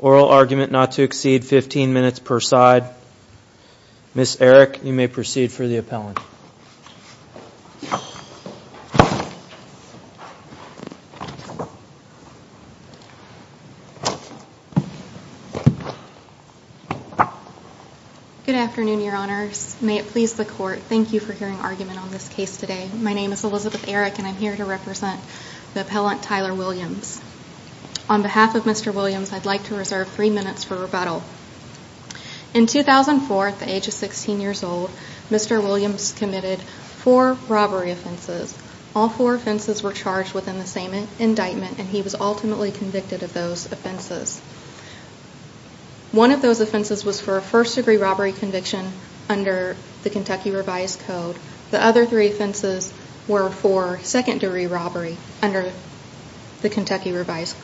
oral argument not to exceed 15 minutes per side. Ms. Erick, you may proceed for the appellant. Good afternoon, your honors. May it please the court, thank you for hearing argument on this case today. My name is Elizabeth Erick and I'm here to represent the appellant Tyler Williams. On behalf of Mr. Williams, I'd like to reserve three minutes for rebuttal. In 2004, at the age of 16 years old, Mr. Williams committed four robbery offenses. All four offenses were charged within the same indictment and he was ultimately convicted of those offenses. One of those offenses was for a first degree robbery conviction under the Kentucky Revised Code. The other three offenses were for second degree robbery under the Kentucky Revised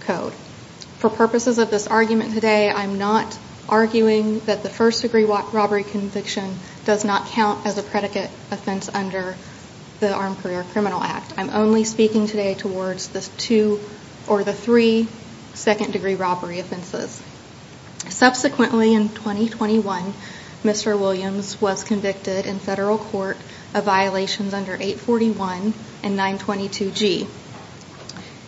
Code. For purposes of this argument today, I'm not arguing that the first degree robbery conviction does not count as a predicate offense under the Armed Career Criminal Act. I'm only speaking today towards the three second degree robbery offenses. Subsequently, in 2021, Mr. Williams was convicted in federal court of violations under 841 and 922G.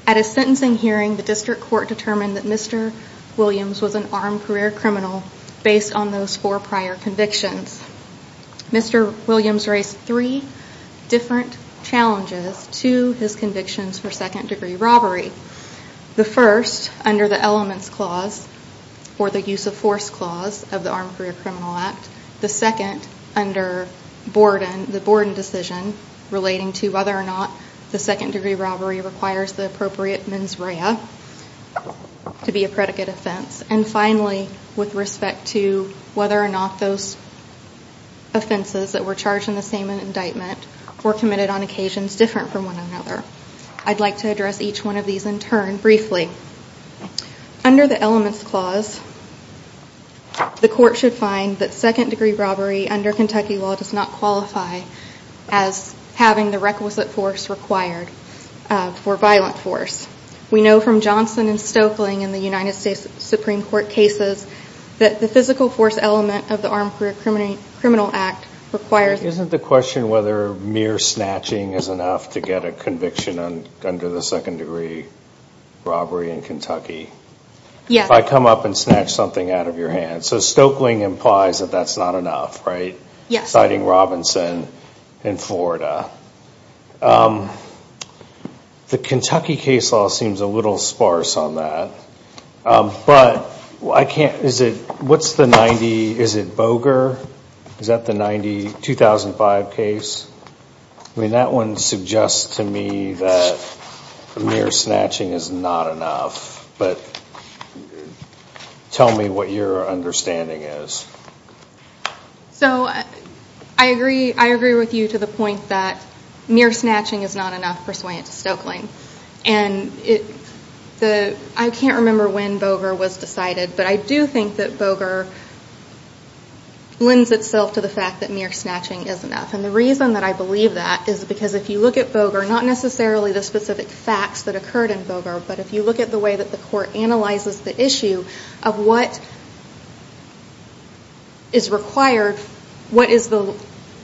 At a sentencing hearing, the district court determined that Mr. Williams was an armed career criminal based on those four prior convictions. Mr. Williams raised three different challenges to his convictions for second degree robbery. The first, under the Elements Clause or the Use of Force Clause of the Armed Career Criminal Act. The second, under the Borden decision relating to whether or not the second degree robbery requires the appropriate mens rea to be a predicate offense. And finally, with respect to whether or not those offenses that were charged in the same indictment were committed on occasions different from one another. I'd like to address each one of these in turn briefly. Under the Elements Clause, the court should find that second degree robbery under Kentucky law does not qualify as having the requisite force required for violent force. We know from Johnson and Stoeckling in the United States Supreme Court cases that the physical force element of the Armed Career Criminal Act requires... Isn't the question whether mere snatching is enough to get a conviction under the second degree robbery in Kentucky? Yes. If I come up and snatch something out of your hand. So Stoeckling implies that that's not enough, right? Yes. Citing Robinson in Florida. The Kentucky case law seems a little sparse on that. But I can't... Is it... What's the 90... Is it Boger? Is that the 90... 2005 case? I mean, that one suggests to me that mere snatching is not enough. But tell me what your understanding is. So I agree with you to the point that mere snatching is not enough, persuading Stoeckling. And I can't remember when Boger was decided, but I do think that Boger lends itself to the fact that mere snatching is enough. And the reason that I believe that is because if you look at Boger, not necessarily the specific facts that occurred in Boger, but if you look at the way that the court analyzes the issue of what is required, what is the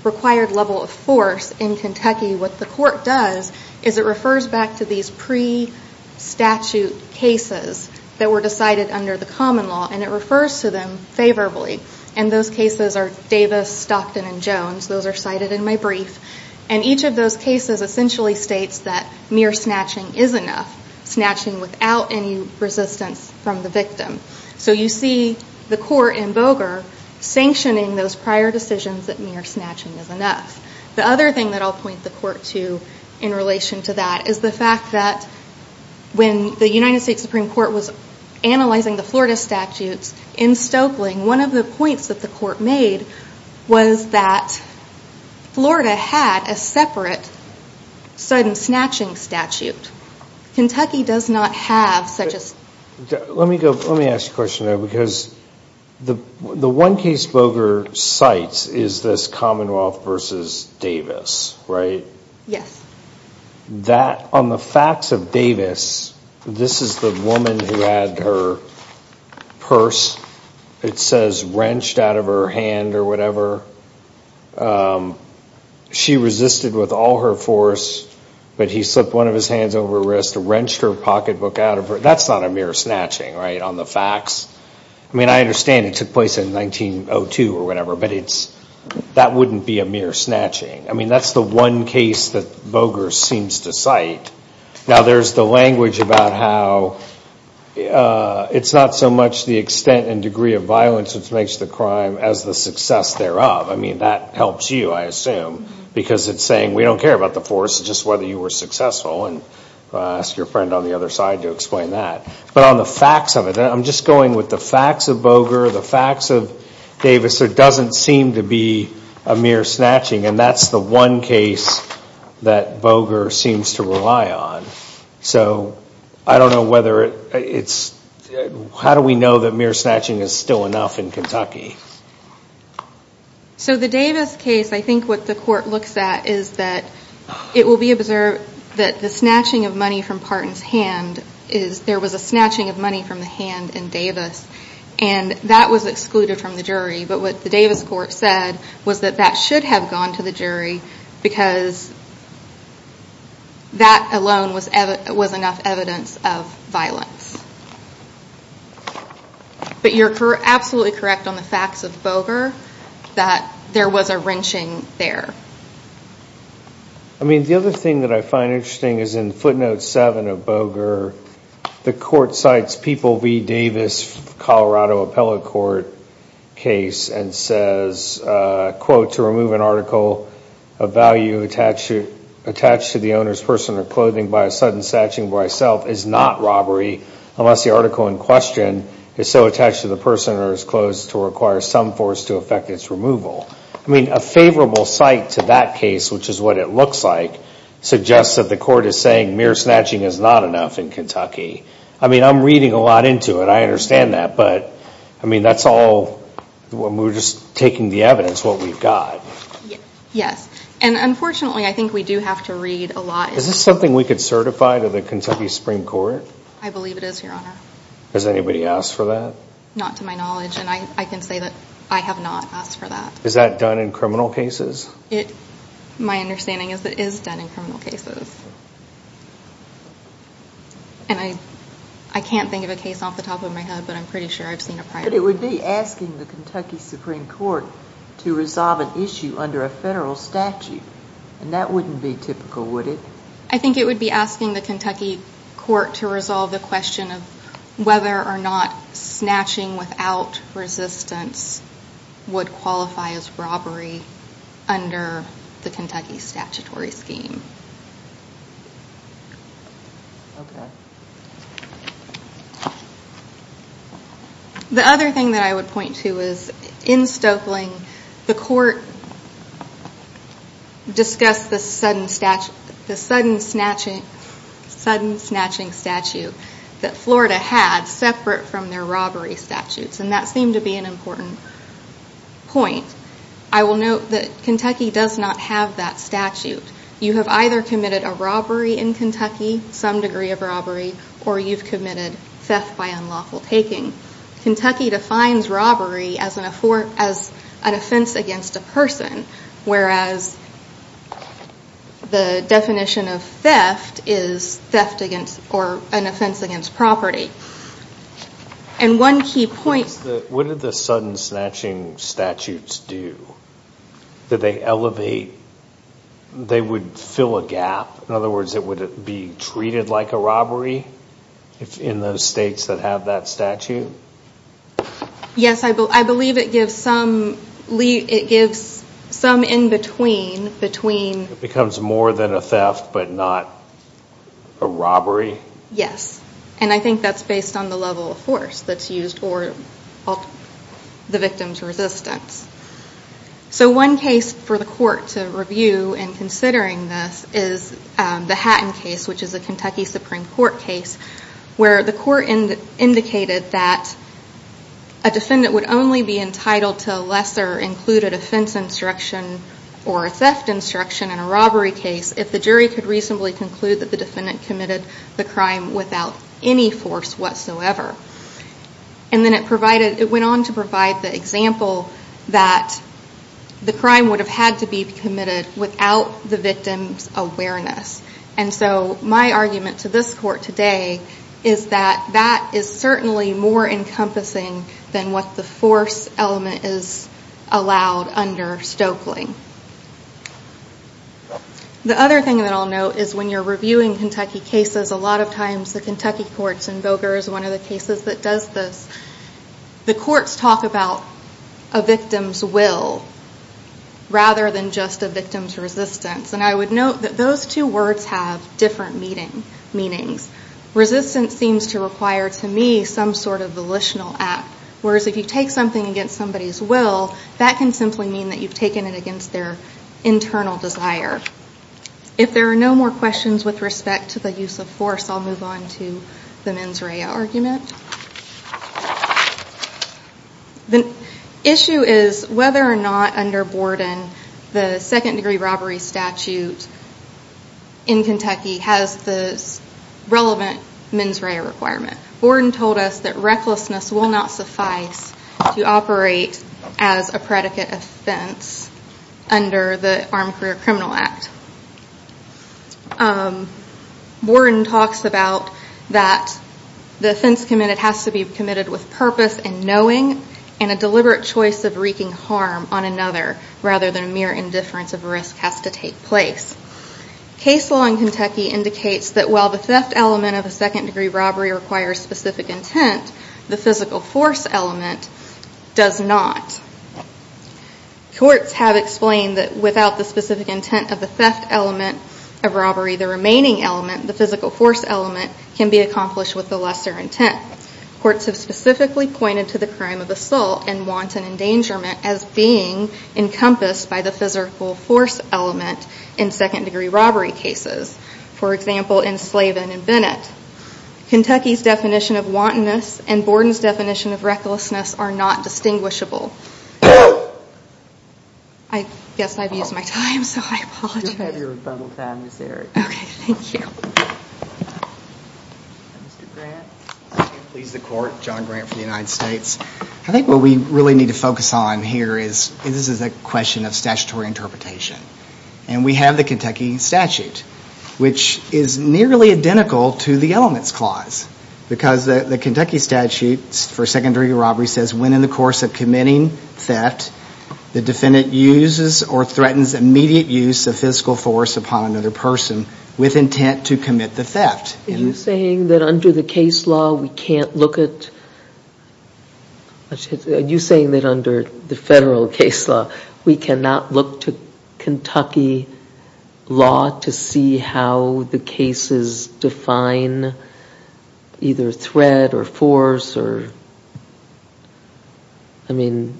required level of force in Kentucky, what the court does is it refers back to these pre-statute cases that were decided under the common law. And it refers to them favorably. And those cases are Davis, Stockton, and Jones. Those are cited in my brief. And each of those cases essentially states that mere snatching is enough, snatching without any resistance from the victim. So you see the court in Boger sanctioning those prior decisions that mere snatching is enough. The other thing that I'll point the court to in relation to that is the fact that when the United States Supreme Court was analyzing the Florida statutes, in Stokeling, one of the points that the court made was that Florida had a separate sudden snatching statute. Kentucky does not have such a statute. Let me ask you a question, though, because the one case Boger cites is this Commonwealth v. Davis, right? Yes. On the facts of Davis, this is the woman who had her purse, it says, wrenched out of her hand or whatever. She resisted with all her force, but he slipped one of his hands over her wrist, wrenched her pocketbook out of her. That's not a mere snatching, right, on the facts? I mean, I understand it took place in 1902 or whatever, but that wouldn't be a mere snatching. I mean, that's the one case that Boger seems to cite. Now, there's the language about how it's not so much the extent and degree of violence which makes the crime as the success thereof. I mean, that helps you, I assume, because it's saying we don't care about the force, it's just whether you were successful. I'll ask your friend on the other side to explain that. But on the facts of it, I'm just going with the facts of Boger, the facts of Davis. There doesn't seem to be a mere snatching, and that's the one case that Boger seems to rely on. So I don't know whether it's – how do we know that mere snatching is still enough in Kentucky? So the Davis case, I think what the court looks at is that it will be observed that the snatching of money from Parton's hand is – there was a snatching of money from the hand in Davis, and that was excluded from the jury. But what the Davis court said was that that should have gone to the jury because that alone was enough evidence of violence. But you're absolutely correct on the facts of Boger that there was a wrenching there. I mean, the other thing that I find interesting is in footnote 7 of Boger, the court cites People v. Davis Colorado Appellate Court case and says, quote, to remove an article of value attached to the owner's person or clothing by a sudden snatching by self is not robbery unless the article in question is so attached to the person or his clothes to require some force to affect its removal. I mean, a favorable cite to that case, which is what it looks like, suggests that the court is saying mere snatching is not enough in Kentucky. I mean, I'm reading a lot into it. I understand that. But, I mean, that's all – we're just taking the evidence, what we've got. Yes. And unfortunately, I think we do have to read a lot. Is this something we could certify to the Kentucky Supreme Court? I believe it is, Your Honor. Has anybody asked for that? Not to my knowledge. And I can say that I have not asked for that. Is that done in criminal cases? My understanding is it is done in criminal cases. And I can't think of a case off the top of my head, but I'm pretty sure I've seen a prior one. But it would be asking the Kentucky Supreme Court to resolve an issue under a federal statute. And that wouldn't be typical, would it? I think it would be asking the Kentucky court to resolve the question of whether or not snatching without resistance would qualify as robbery under the Kentucky statutory scheme. Okay. The other thing that I would point to is in Stoeckling, the court discussed the sudden snatching statute that Florida had separate from their robbery statutes. And that seemed to be an important point. I will note that Kentucky does not have that statute. You have either committed a robbery in Kentucky, some degree of robbery, or you've committed theft by unlawful taking. Kentucky defines robbery as an offense against a person, whereas the definition of theft is theft against or an offense against property. And one key point... What did the sudden snatching statutes do? Did they elevate? They would fill a gap? In other words, would it be treated like a robbery in those states that have that statute? Yes, I believe it gives some in-between. It becomes more than a theft, but not a robbery? Yes, and I think that's based on the level of force that's used or the victim's resistance. So one case for the court to review in considering this is the Hatton case, which is a Kentucky Supreme Court case, where the court indicated that a defendant would only be entitled to a lesser included offense instruction or a theft instruction in a robbery case if the jury could reasonably conclude that the defendant committed the crime without any force whatsoever. And then it went on to provide the example that the crime would have had to be committed without the victim's awareness. And so my argument to this court today is that that is certainly more encompassing than what the force element is allowed under Stoeckling. The other thing that I'll note is when you're reviewing Kentucky cases, a lot of times the Kentucky courts, and Boger is one of the cases that does this, the courts talk about a victim's will rather than just a victim's resistance. And I would note that those two words have different meanings. Resistance seems to require, to me, some sort of volitional act, whereas if you take something against somebody's will, that can simply mean that you've taken it against their internal desire. If there are no more questions with respect to the use of force, I'll move on to the mens rea argument. The issue is whether or not under Borden, the second-degree robbery statute in Kentucky has the relevant mens rea requirement. Borden told us that recklessness will not suffice to operate as a predicate offense under the Armed Career Criminal Act. Borden talks about that the offense committed has to be committed with purpose and knowing and a deliberate choice of wreaking harm on another rather than a mere indifference of risk has to take place. Case law in Kentucky indicates that while the theft element of a second-degree robbery requires specific intent, the physical force element does not. Courts have explained that without the specific intent of the theft element of robbery, the remaining element, the physical force element, can be accomplished with the lesser intent. Courts have specifically pointed to the crime of assault and wanton endangerment as being encompassed by the physical force element in second-degree robbery cases, for example, in Slavin and Bennett. Kentucky's definition of wantonness and Borden's definition of recklessness are not distinguishable. I guess I've used my time, so I apologize. You have your rebuttal time, Ms. Erick. Okay, thank you. Mr. Grant. Please, the Court. John Grant for the United States. I think what we really need to focus on here is this is a question of statutory interpretation. And we have the Kentucky statute, which is nearly identical to the elements clause, because the Kentucky statute for second-degree robbery says when in the course of committing theft, the defendant uses or threatens immediate use of physical force upon another person with intent to commit the theft. Are you saying that under the case law we can't look at, are you saying that under the federal case law we cannot look to Kentucky law to see how the cases define either threat or force or, I mean,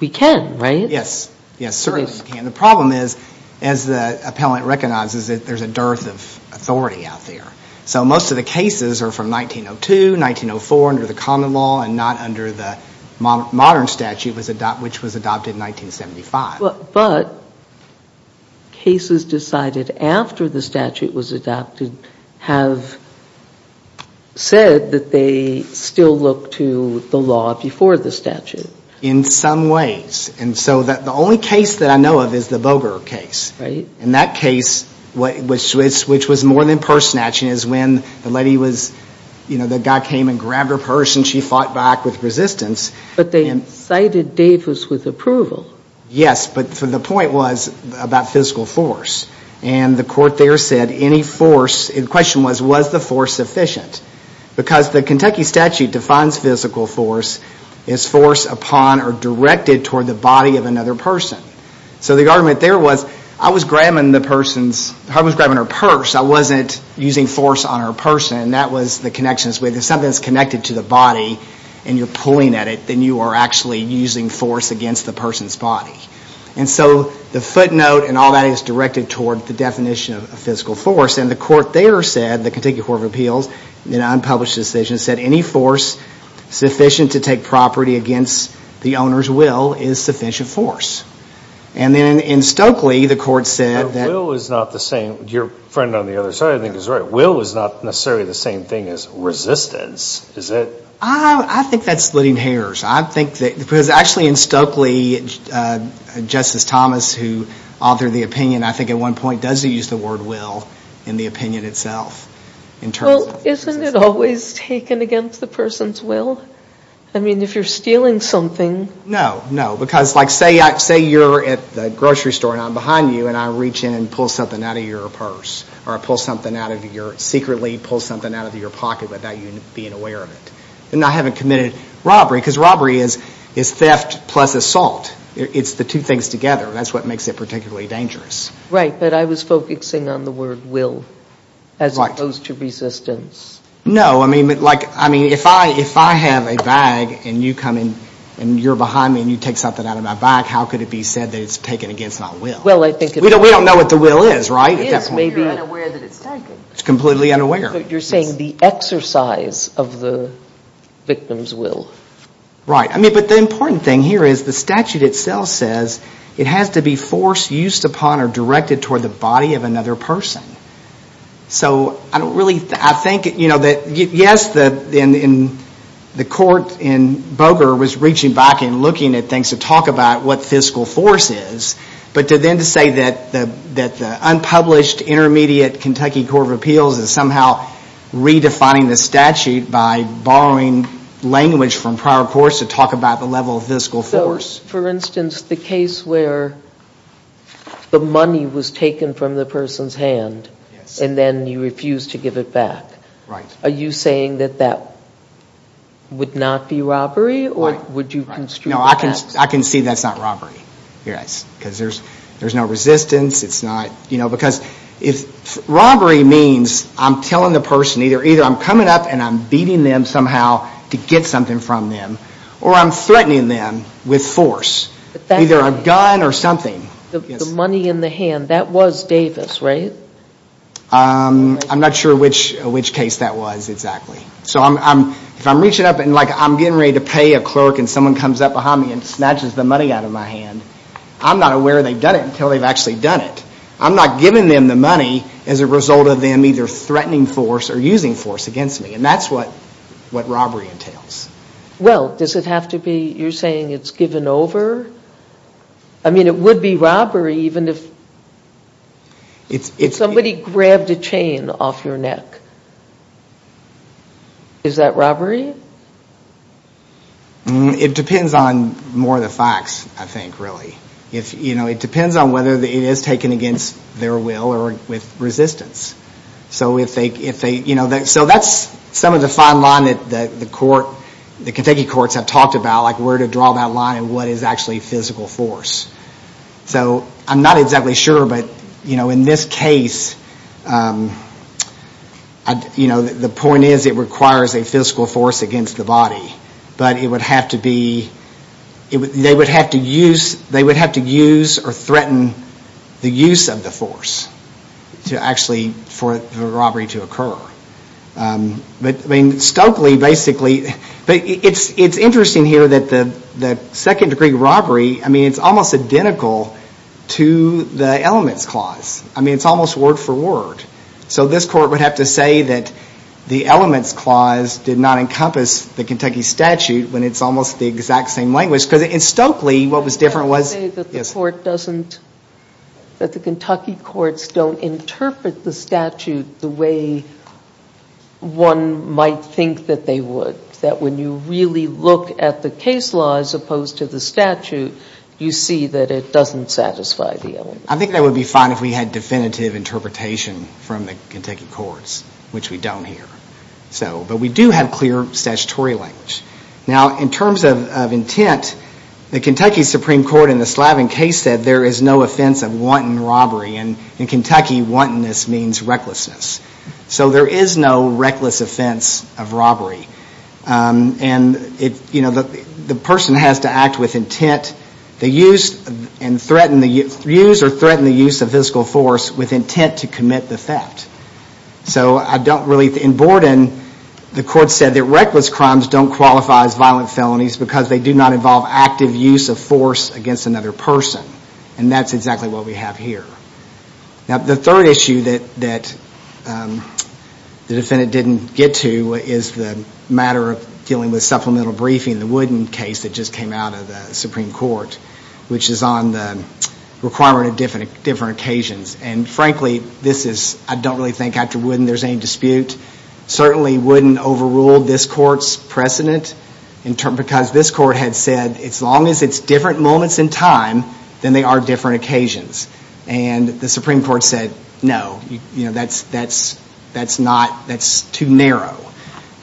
we can, right? Yes, yes, certainly we can. The problem is, as the appellant recognizes it, there's a dearth of authority out there. So most of the cases are from 1902, 1904 under the common law and not under the modern statute, which was adopted in 1975. But cases decided after the statute was adopted have said that they still look to the law before the statute. In some ways. And so the only case that I know of is the Boger case. Right. And in that case, which was more than purse snatching, is when the lady was, you know, the guy came and grabbed her purse and she fought back with resistance. But they cited Davis with approval. Yes, but the point was about physical force. And the court there said any force, the question was, was the force sufficient? Because the Kentucky statute defines physical force as force upon or directed toward the body of another person. So the argument there was, I was grabbing the person's, I was grabbing her purse. I wasn't using force on her person. That was the connection. If something is connected to the body and you're pulling at it, then you are actually using force against the person's body. And so the footnote and all that is directed toward the definition of physical force. And the court there said, the Kentucky Court of Appeals, in an unpublished decision, said any force sufficient to take property against the owner's will is sufficient force. And then in Stokely, the court said that. But will is not the same. Your friend on the other side I think is right. Will is not necessarily the same thing as resistance, is it? I think that's splitting hairs. I think that, because actually in Stokely, Justice Thomas, who authored the opinion, I think at one point does use the word will in the opinion itself. Well, isn't it always taken against the person's will? I mean, if you're stealing something. No, no. Because, like, say you're at the grocery store and I'm behind you and I reach in and pull something out of your purse. Or I pull something out of your, secretly pull something out of your pocket without you being aware of it. And I haven't committed robbery, because robbery is theft plus assault. It's the two things together. That's what makes it particularly dangerous. Right. But I was focusing on the word will as opposed to resistance. No. I mean, if I have a bag and you come in and you're behind me and you take something out of my bag, how could it be said that it's taken against my will? Well, I think it is. We don't know what the will is, right? It is. Maybe you're unaware that it's taken. It's completely unaware. But you're saying the exercise of the victim's will. Right. I mean, but the important thing here is the statute itself says it has to be forced, used upon, or directed toward the body of another person. So I don't really, I think, you know, yes, the court in Boger was reaching back and looking at things to talk about what fiscal force is. But then to say that the unpublished Intermediate Kentucky Court of Appeals is somehow redefining the statute by borrowing language from prior courts to talk about the level of fiscal force. For instance, the case where the money was taken from the person's hand and then you refused to give it back. Right. Are you saying that that would not be robbery or would you construe that? No, I can see that's not robbery, yes, because there's no resistance. It's not, you know, because if robbery means I'm telling the person either I'm coming up and I'm beating them somehow to get something from them or I'm threatening them with force, either a gun or something. The money in the hand, that was Davis, right? I'm not sure which case that was exactly. So if I'm reaching up and, like, I'm getting ready to pay a clerk and someone comes up behind me and snatches the money out of my hand, I'm not aware they've done it until they've actually done it. I'm not giving them the money as a result of them either threatening force or using force against me, and that's what robbery entails. Well, does it have to be, you're saying it's given over? I mean, it would be robbery even if somebody grabbed a chain off your neck. Is that robbery? It depends on more of the facts, I think, really. You know, it depends on whether it is taken against their will or with resistance. So if they, you know, so that's some of the fine line that the court, the Kentucky courts have talked about, like where to draw that line and what is actually physical force. So I'm not exactly sure, but, you know, in this case, you know, the point is it requires a physical force against the body, but it would have to be, they would have to use or threaten the use of the force to actually for the robbery to occur. But, I mean, Stokely basically, but it's interesting here that the second degree robbery, I mean, it's almost identical to the elements clause. I mean, it's almost word for word. So this court would have to say that the elements clause did not encompass the Kentucky statute when it's almost the exact same language, because in Stokely what was different was... the statute the way one might think that they would, that when you really look at the case law as opposed to the statute, you see that it doesn't satisfy the element. I think that would be fine if we had definitive interpretation from the Kentucky courts, which we don't here. So, but we do have clear statutory language. Now, in terms of intent, the Kentucky Supreme Court in the Slavin case said that there is no offense of wanton robbery. And in Kentucky, wantonness means recklessness. So there is no reckless offense of robbery. And, you know, the person has to act with intent, and use or threaten the use of physical force with intent to commit the theft. So I don't really... In Borden, the court said that reckless crimes don't qualify as violent felonies because they do not involve active use of force against another person. And that's exactly what we have here. Now, the third issue that the defendant didn't get to is the matter of dealing with supplemental briefing, the Wooden case that just came out of the Supreme Court, which is on the requirement of different occasions. And frankly, this is... I don't really think after Wooden there's any dispute. Certainly, Wooden overruled this court's precedent because this court had said, as long as it's different moments in time, then they are different occasions. And the Supreme Court said, no, that's too narrow.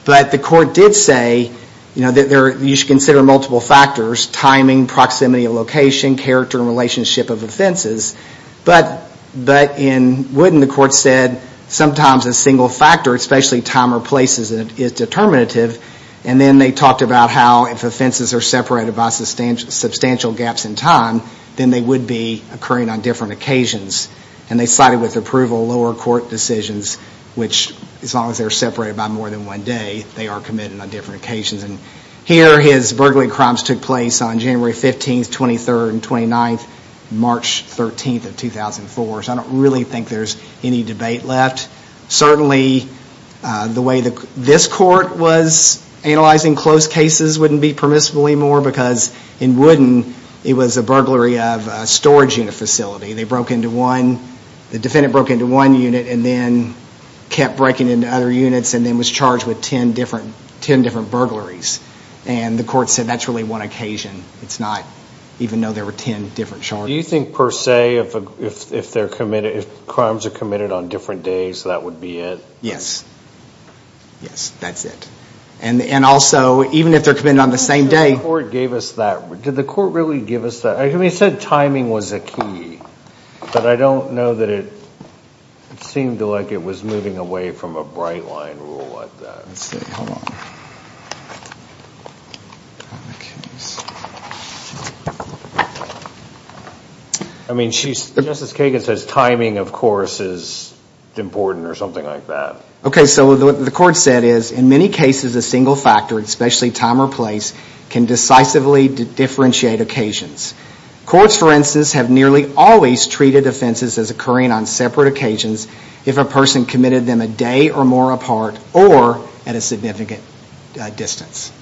But the court did say that you should consider multiple factors, timing, proximity of location, character and relationship of offenses. But in Wooden, the court said sometimes a single factor, especially time or places, is determinative. And then they talked about how if offenses are separated by substantial gaps in time, then they would be occurring on different occasions. And they cited with approval lower court decisions, which as long as they're separated by more than one day, they are committed on different occasions. And here his burglary crimes took place on January 15th, 23rd, and 29th, March 13th of 2004. So I don't really think there's any debate left. Certainly, the way this court was analyzing closed cases wouldn't be permissible anymore because in Wooden, it was a burglary of a storage unit facility. They broke into one, the defendant broke into one unit and then kept breaking into other units and then was charged with ten different burglaries. And the court said that's really one occasion. It's not even though there were ten different charges. Do you think, per se, if crimes are committed on different days, that would be it? Yes. Yes, that's it. And also, even if they're committed on the same day— Did the court really give us that? I mean, it said timing was a key, but I don't know that it seemed like it was moving away from a bright line rule like that. Let's see. Hold on. Okay. I mean, Justice Kagan says timing, of course, is important or something like that. Okay, so what the court said is, in many cases, a single factor, especially time or place, can decisively differentiate occasions. Courts, for instance, have nearly always treated offenses as occurring on separate occasions if a person committed them a day or more apart or at a significant distance.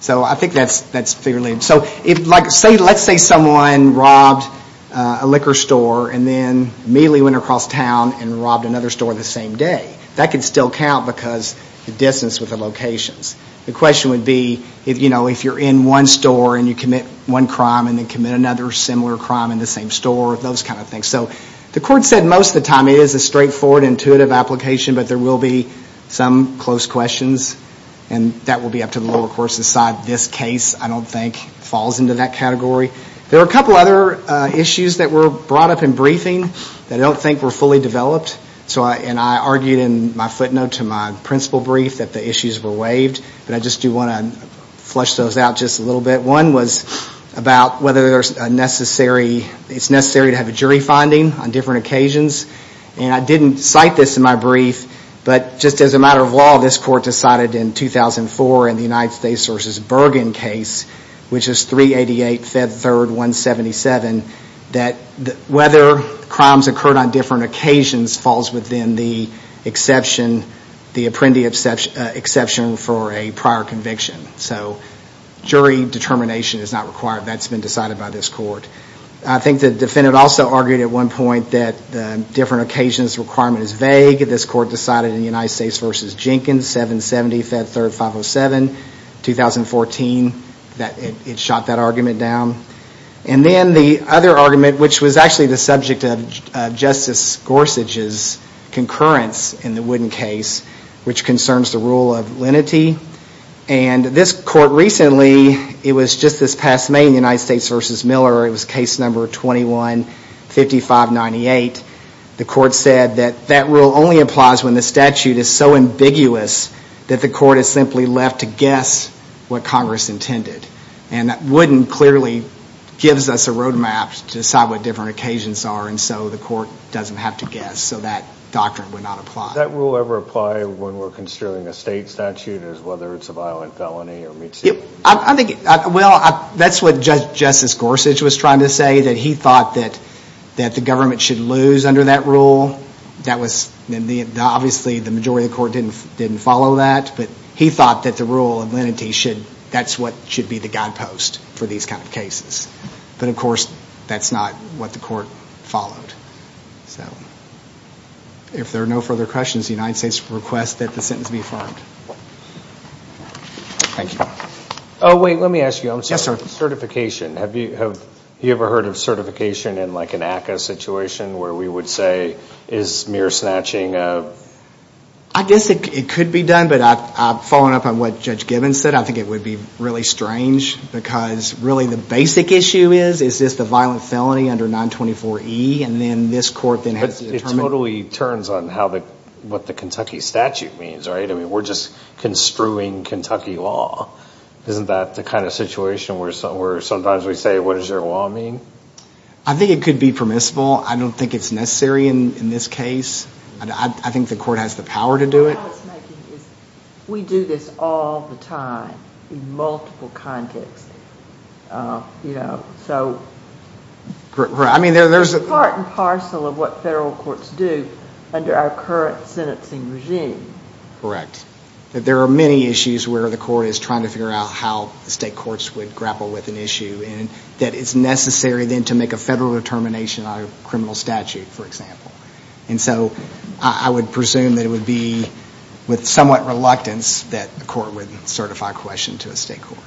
So I think that's fairly— So let's say someone robbed a liquor store and then immediately went across town and robbed another store the same day. That could still count because the distance with the locations. The question would be, you know, if you're in one store and you commit one crime and then commit another similar crime in the same store, those kind of things. So the court said most of the time it is a straightforward, intuitive application, but there will be some close questions. And that will be up to the lower court's side. This case, I don't think, falls into that category. There are a couple other issues that were brought up in briefing that I don't think were fully developed. And I argued in my footnote to my principal brief that the issues were waived, but I just do want to flush those out just a little bit. One was about whether it's necessary to have a jury finding on different occasions. And I didn't cite this in my brief, but just as a matter of law, this court decided in 2004 in the United States v. Bergen case, which is 388, Feb. 3, 177, that whether crimes occurred on different occasions falls within the exception, the apprendee exception for a prior conviction. So jury determination is not required. That's been decided by this court. I think the defendant also argued at one point that the different occasions requirement is vague. This court decided in the United States v. Jenkins, 770, Feb. 3, 507, 2014, that it shot that argument down. And then the other argument, which was actually the subject of Justice Gorsuch's concurrence in the Wooden case, which concerns the rule of lenity. And this court recently, it was just this past May in the United States v. Miller, it was case number 215598, the court said that that rule only applies when the statute is so ambiguous that the court is simply left to guess what Congress intended. And Wooden clearly gives us a roadmap to decide what different occasions are, and so the court doesn't have to guess. So that doctrine would not apply. Does that rule ever apply when we're considering a state statute, as whether it's a violent felony or meat-seeking? Well, that's what Justice Gorsuch was trying to say, that he thought that the government should lose under that rule. Obviously, the majority of the court didn't follow that, but he thought that the rule of lenity, that's what should be the guidepost for these kind of cases. But, of course, that's not what the court followed. So, if there are no further questions, the United States requests that the sentence be affirmed. Thank you. Oh, wait, let me ask you. Yes, sir. Certification. Have you ever heard of certification in like an ACCA situation, where we would say is mere snatching of? I guess it could be done, but following up on what Judge Gibbons said, I think it would be really strange, because really the basic issue is, is this the violent felony under 924E, and then this court then has to determine? But it totally turns on what the Kentucky statute means, right? I mean, we're just construing Kentucky law. Isn't that the kind of situation where sometimes we say, what does your law mean? I think it could be permissible. I don't think it's necessary in this case. I think the court has the power to do it. We do this all the time in multiple contexts. You know, so part and parcel of what federal courts do under our current sentencing regime. Correct. There are many issues where the court is trying to figure out how the state courts would grapple with an issue, and that it's necessary then to make a federal determination on a criminal statute, for example. And so I would presume that it would be with somewhat reluctance that the court would certify question to a state court.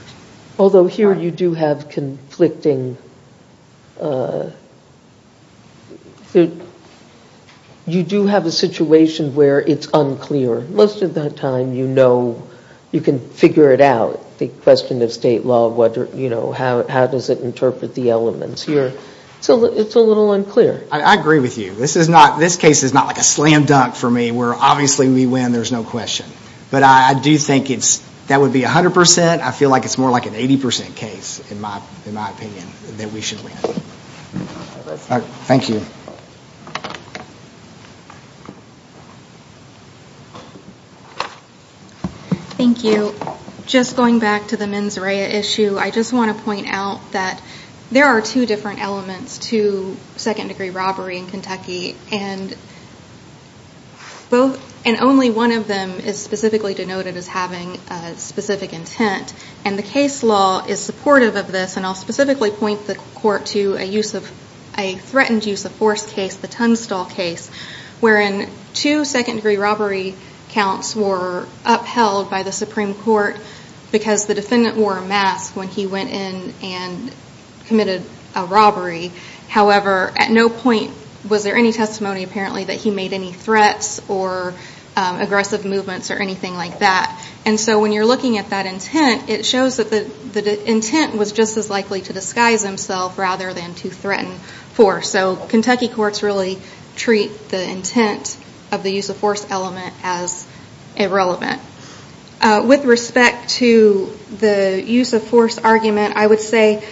Although here you do have conflicting, you do have a situation where it's unclear. Most of the time you know, you can figure it out, the question of state law, how does it interpret the elements here. So it's a little unclear. I agree with you. This case is not like a slam dunk for me where obviously we win, there's no question. But I do think that would be 100%. I feel like it's more like an 80% case, in my opinion, that we should win. Thank you. Thank you. Just going back to the mens rea issue, I just want to point out that there are two different elements to second-degree robbery in Kentucky, and only one of them is specifically denoted as having specific intent. And the case law is supportive of this, and I'll specifically point the court to a threatened use of force case, the Tunstall case, wherein two second-degree robbery counts were upheld by the Supreme Court because the defendant wore a mask when he went in and committed a robbery. However, at no point was there any testimony, apparently, that he made any threats or aggressive movements or anything like that. And so when you're looking at that intent, it shows that the intent was just as likely to disguise himself rather than to threaten force. So Kentucky courts really treat the intent of the use of force element as irrelevant. With respect to the use of force argument, I would say,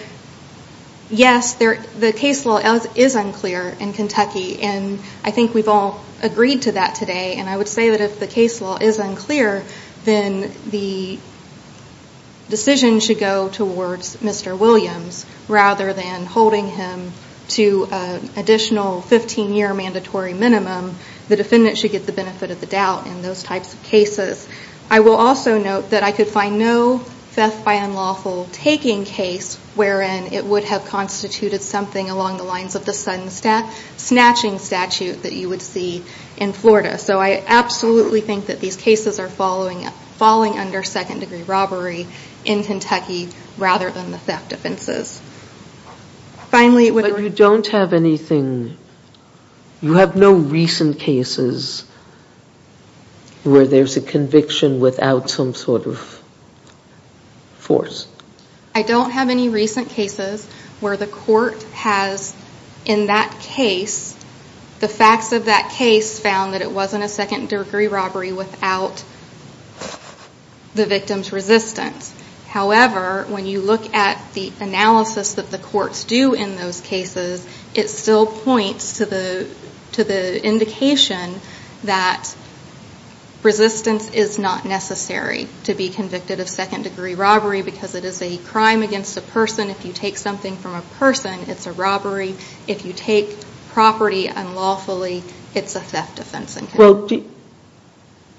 yes, the case law is unclear in Kentucky, and I think we've all agreed to that today. And I would say that if the case law is unclear, then the decision should go towards Mr. Williams rather than holding him to an additional 15-year mandatory minimum. The defendant should get the benefit of the doubt in those types of cases. I will also note that I could find no theft by unlawful taking case wherein it would have constituted something along the lines of the sudden snatching statute that you would see in Florida. So I absolutely think that these cases are falling under second-degree robbery in Kentucky rather than the theft offenses. But you don't have anything, you have no recent cases where there's a conviction without some sort of force? I don't have any recent cases where the court has, in that case, the facts of that case found that it wasn't a second-degree robbery without the victim's resistance. However, when you look at the analysis that the courts do in those cases, it still points to the indication that resistance is not necessary to be convicted of second-degree robbery because it is a crime against a person. If you take something from a person, it's a robbery. If you take property unlawfully, it's a theft offense in Kentucky. Well,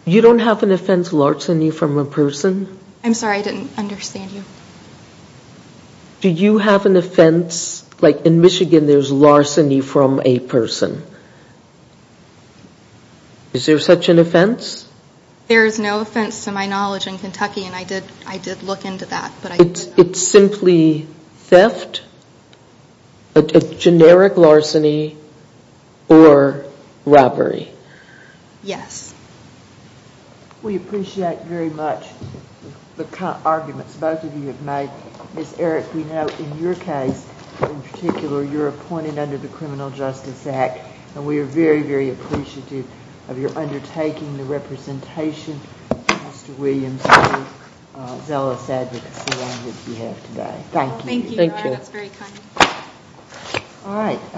you don't have an offense larceny from a person? I'm sorry, I didn't understand you. Do you have an offense, like in Michigan there's larceny from a person? Is there such an offense? There is no offense to my knowledge in Kentucky, and I did look into that. It's simply theft, a generic larceny, or robbery? Yes. We appreciate very much the arguments both of you have made. Ms. Erick, we know in your case, in particular, you're appointed under the Criminal Justice Act, and we are very, very appreciative of your undertaking the representation of Mr. Williams through zealous advocacy on his behalf today. Thank you. Thank you. That's very kind. All right.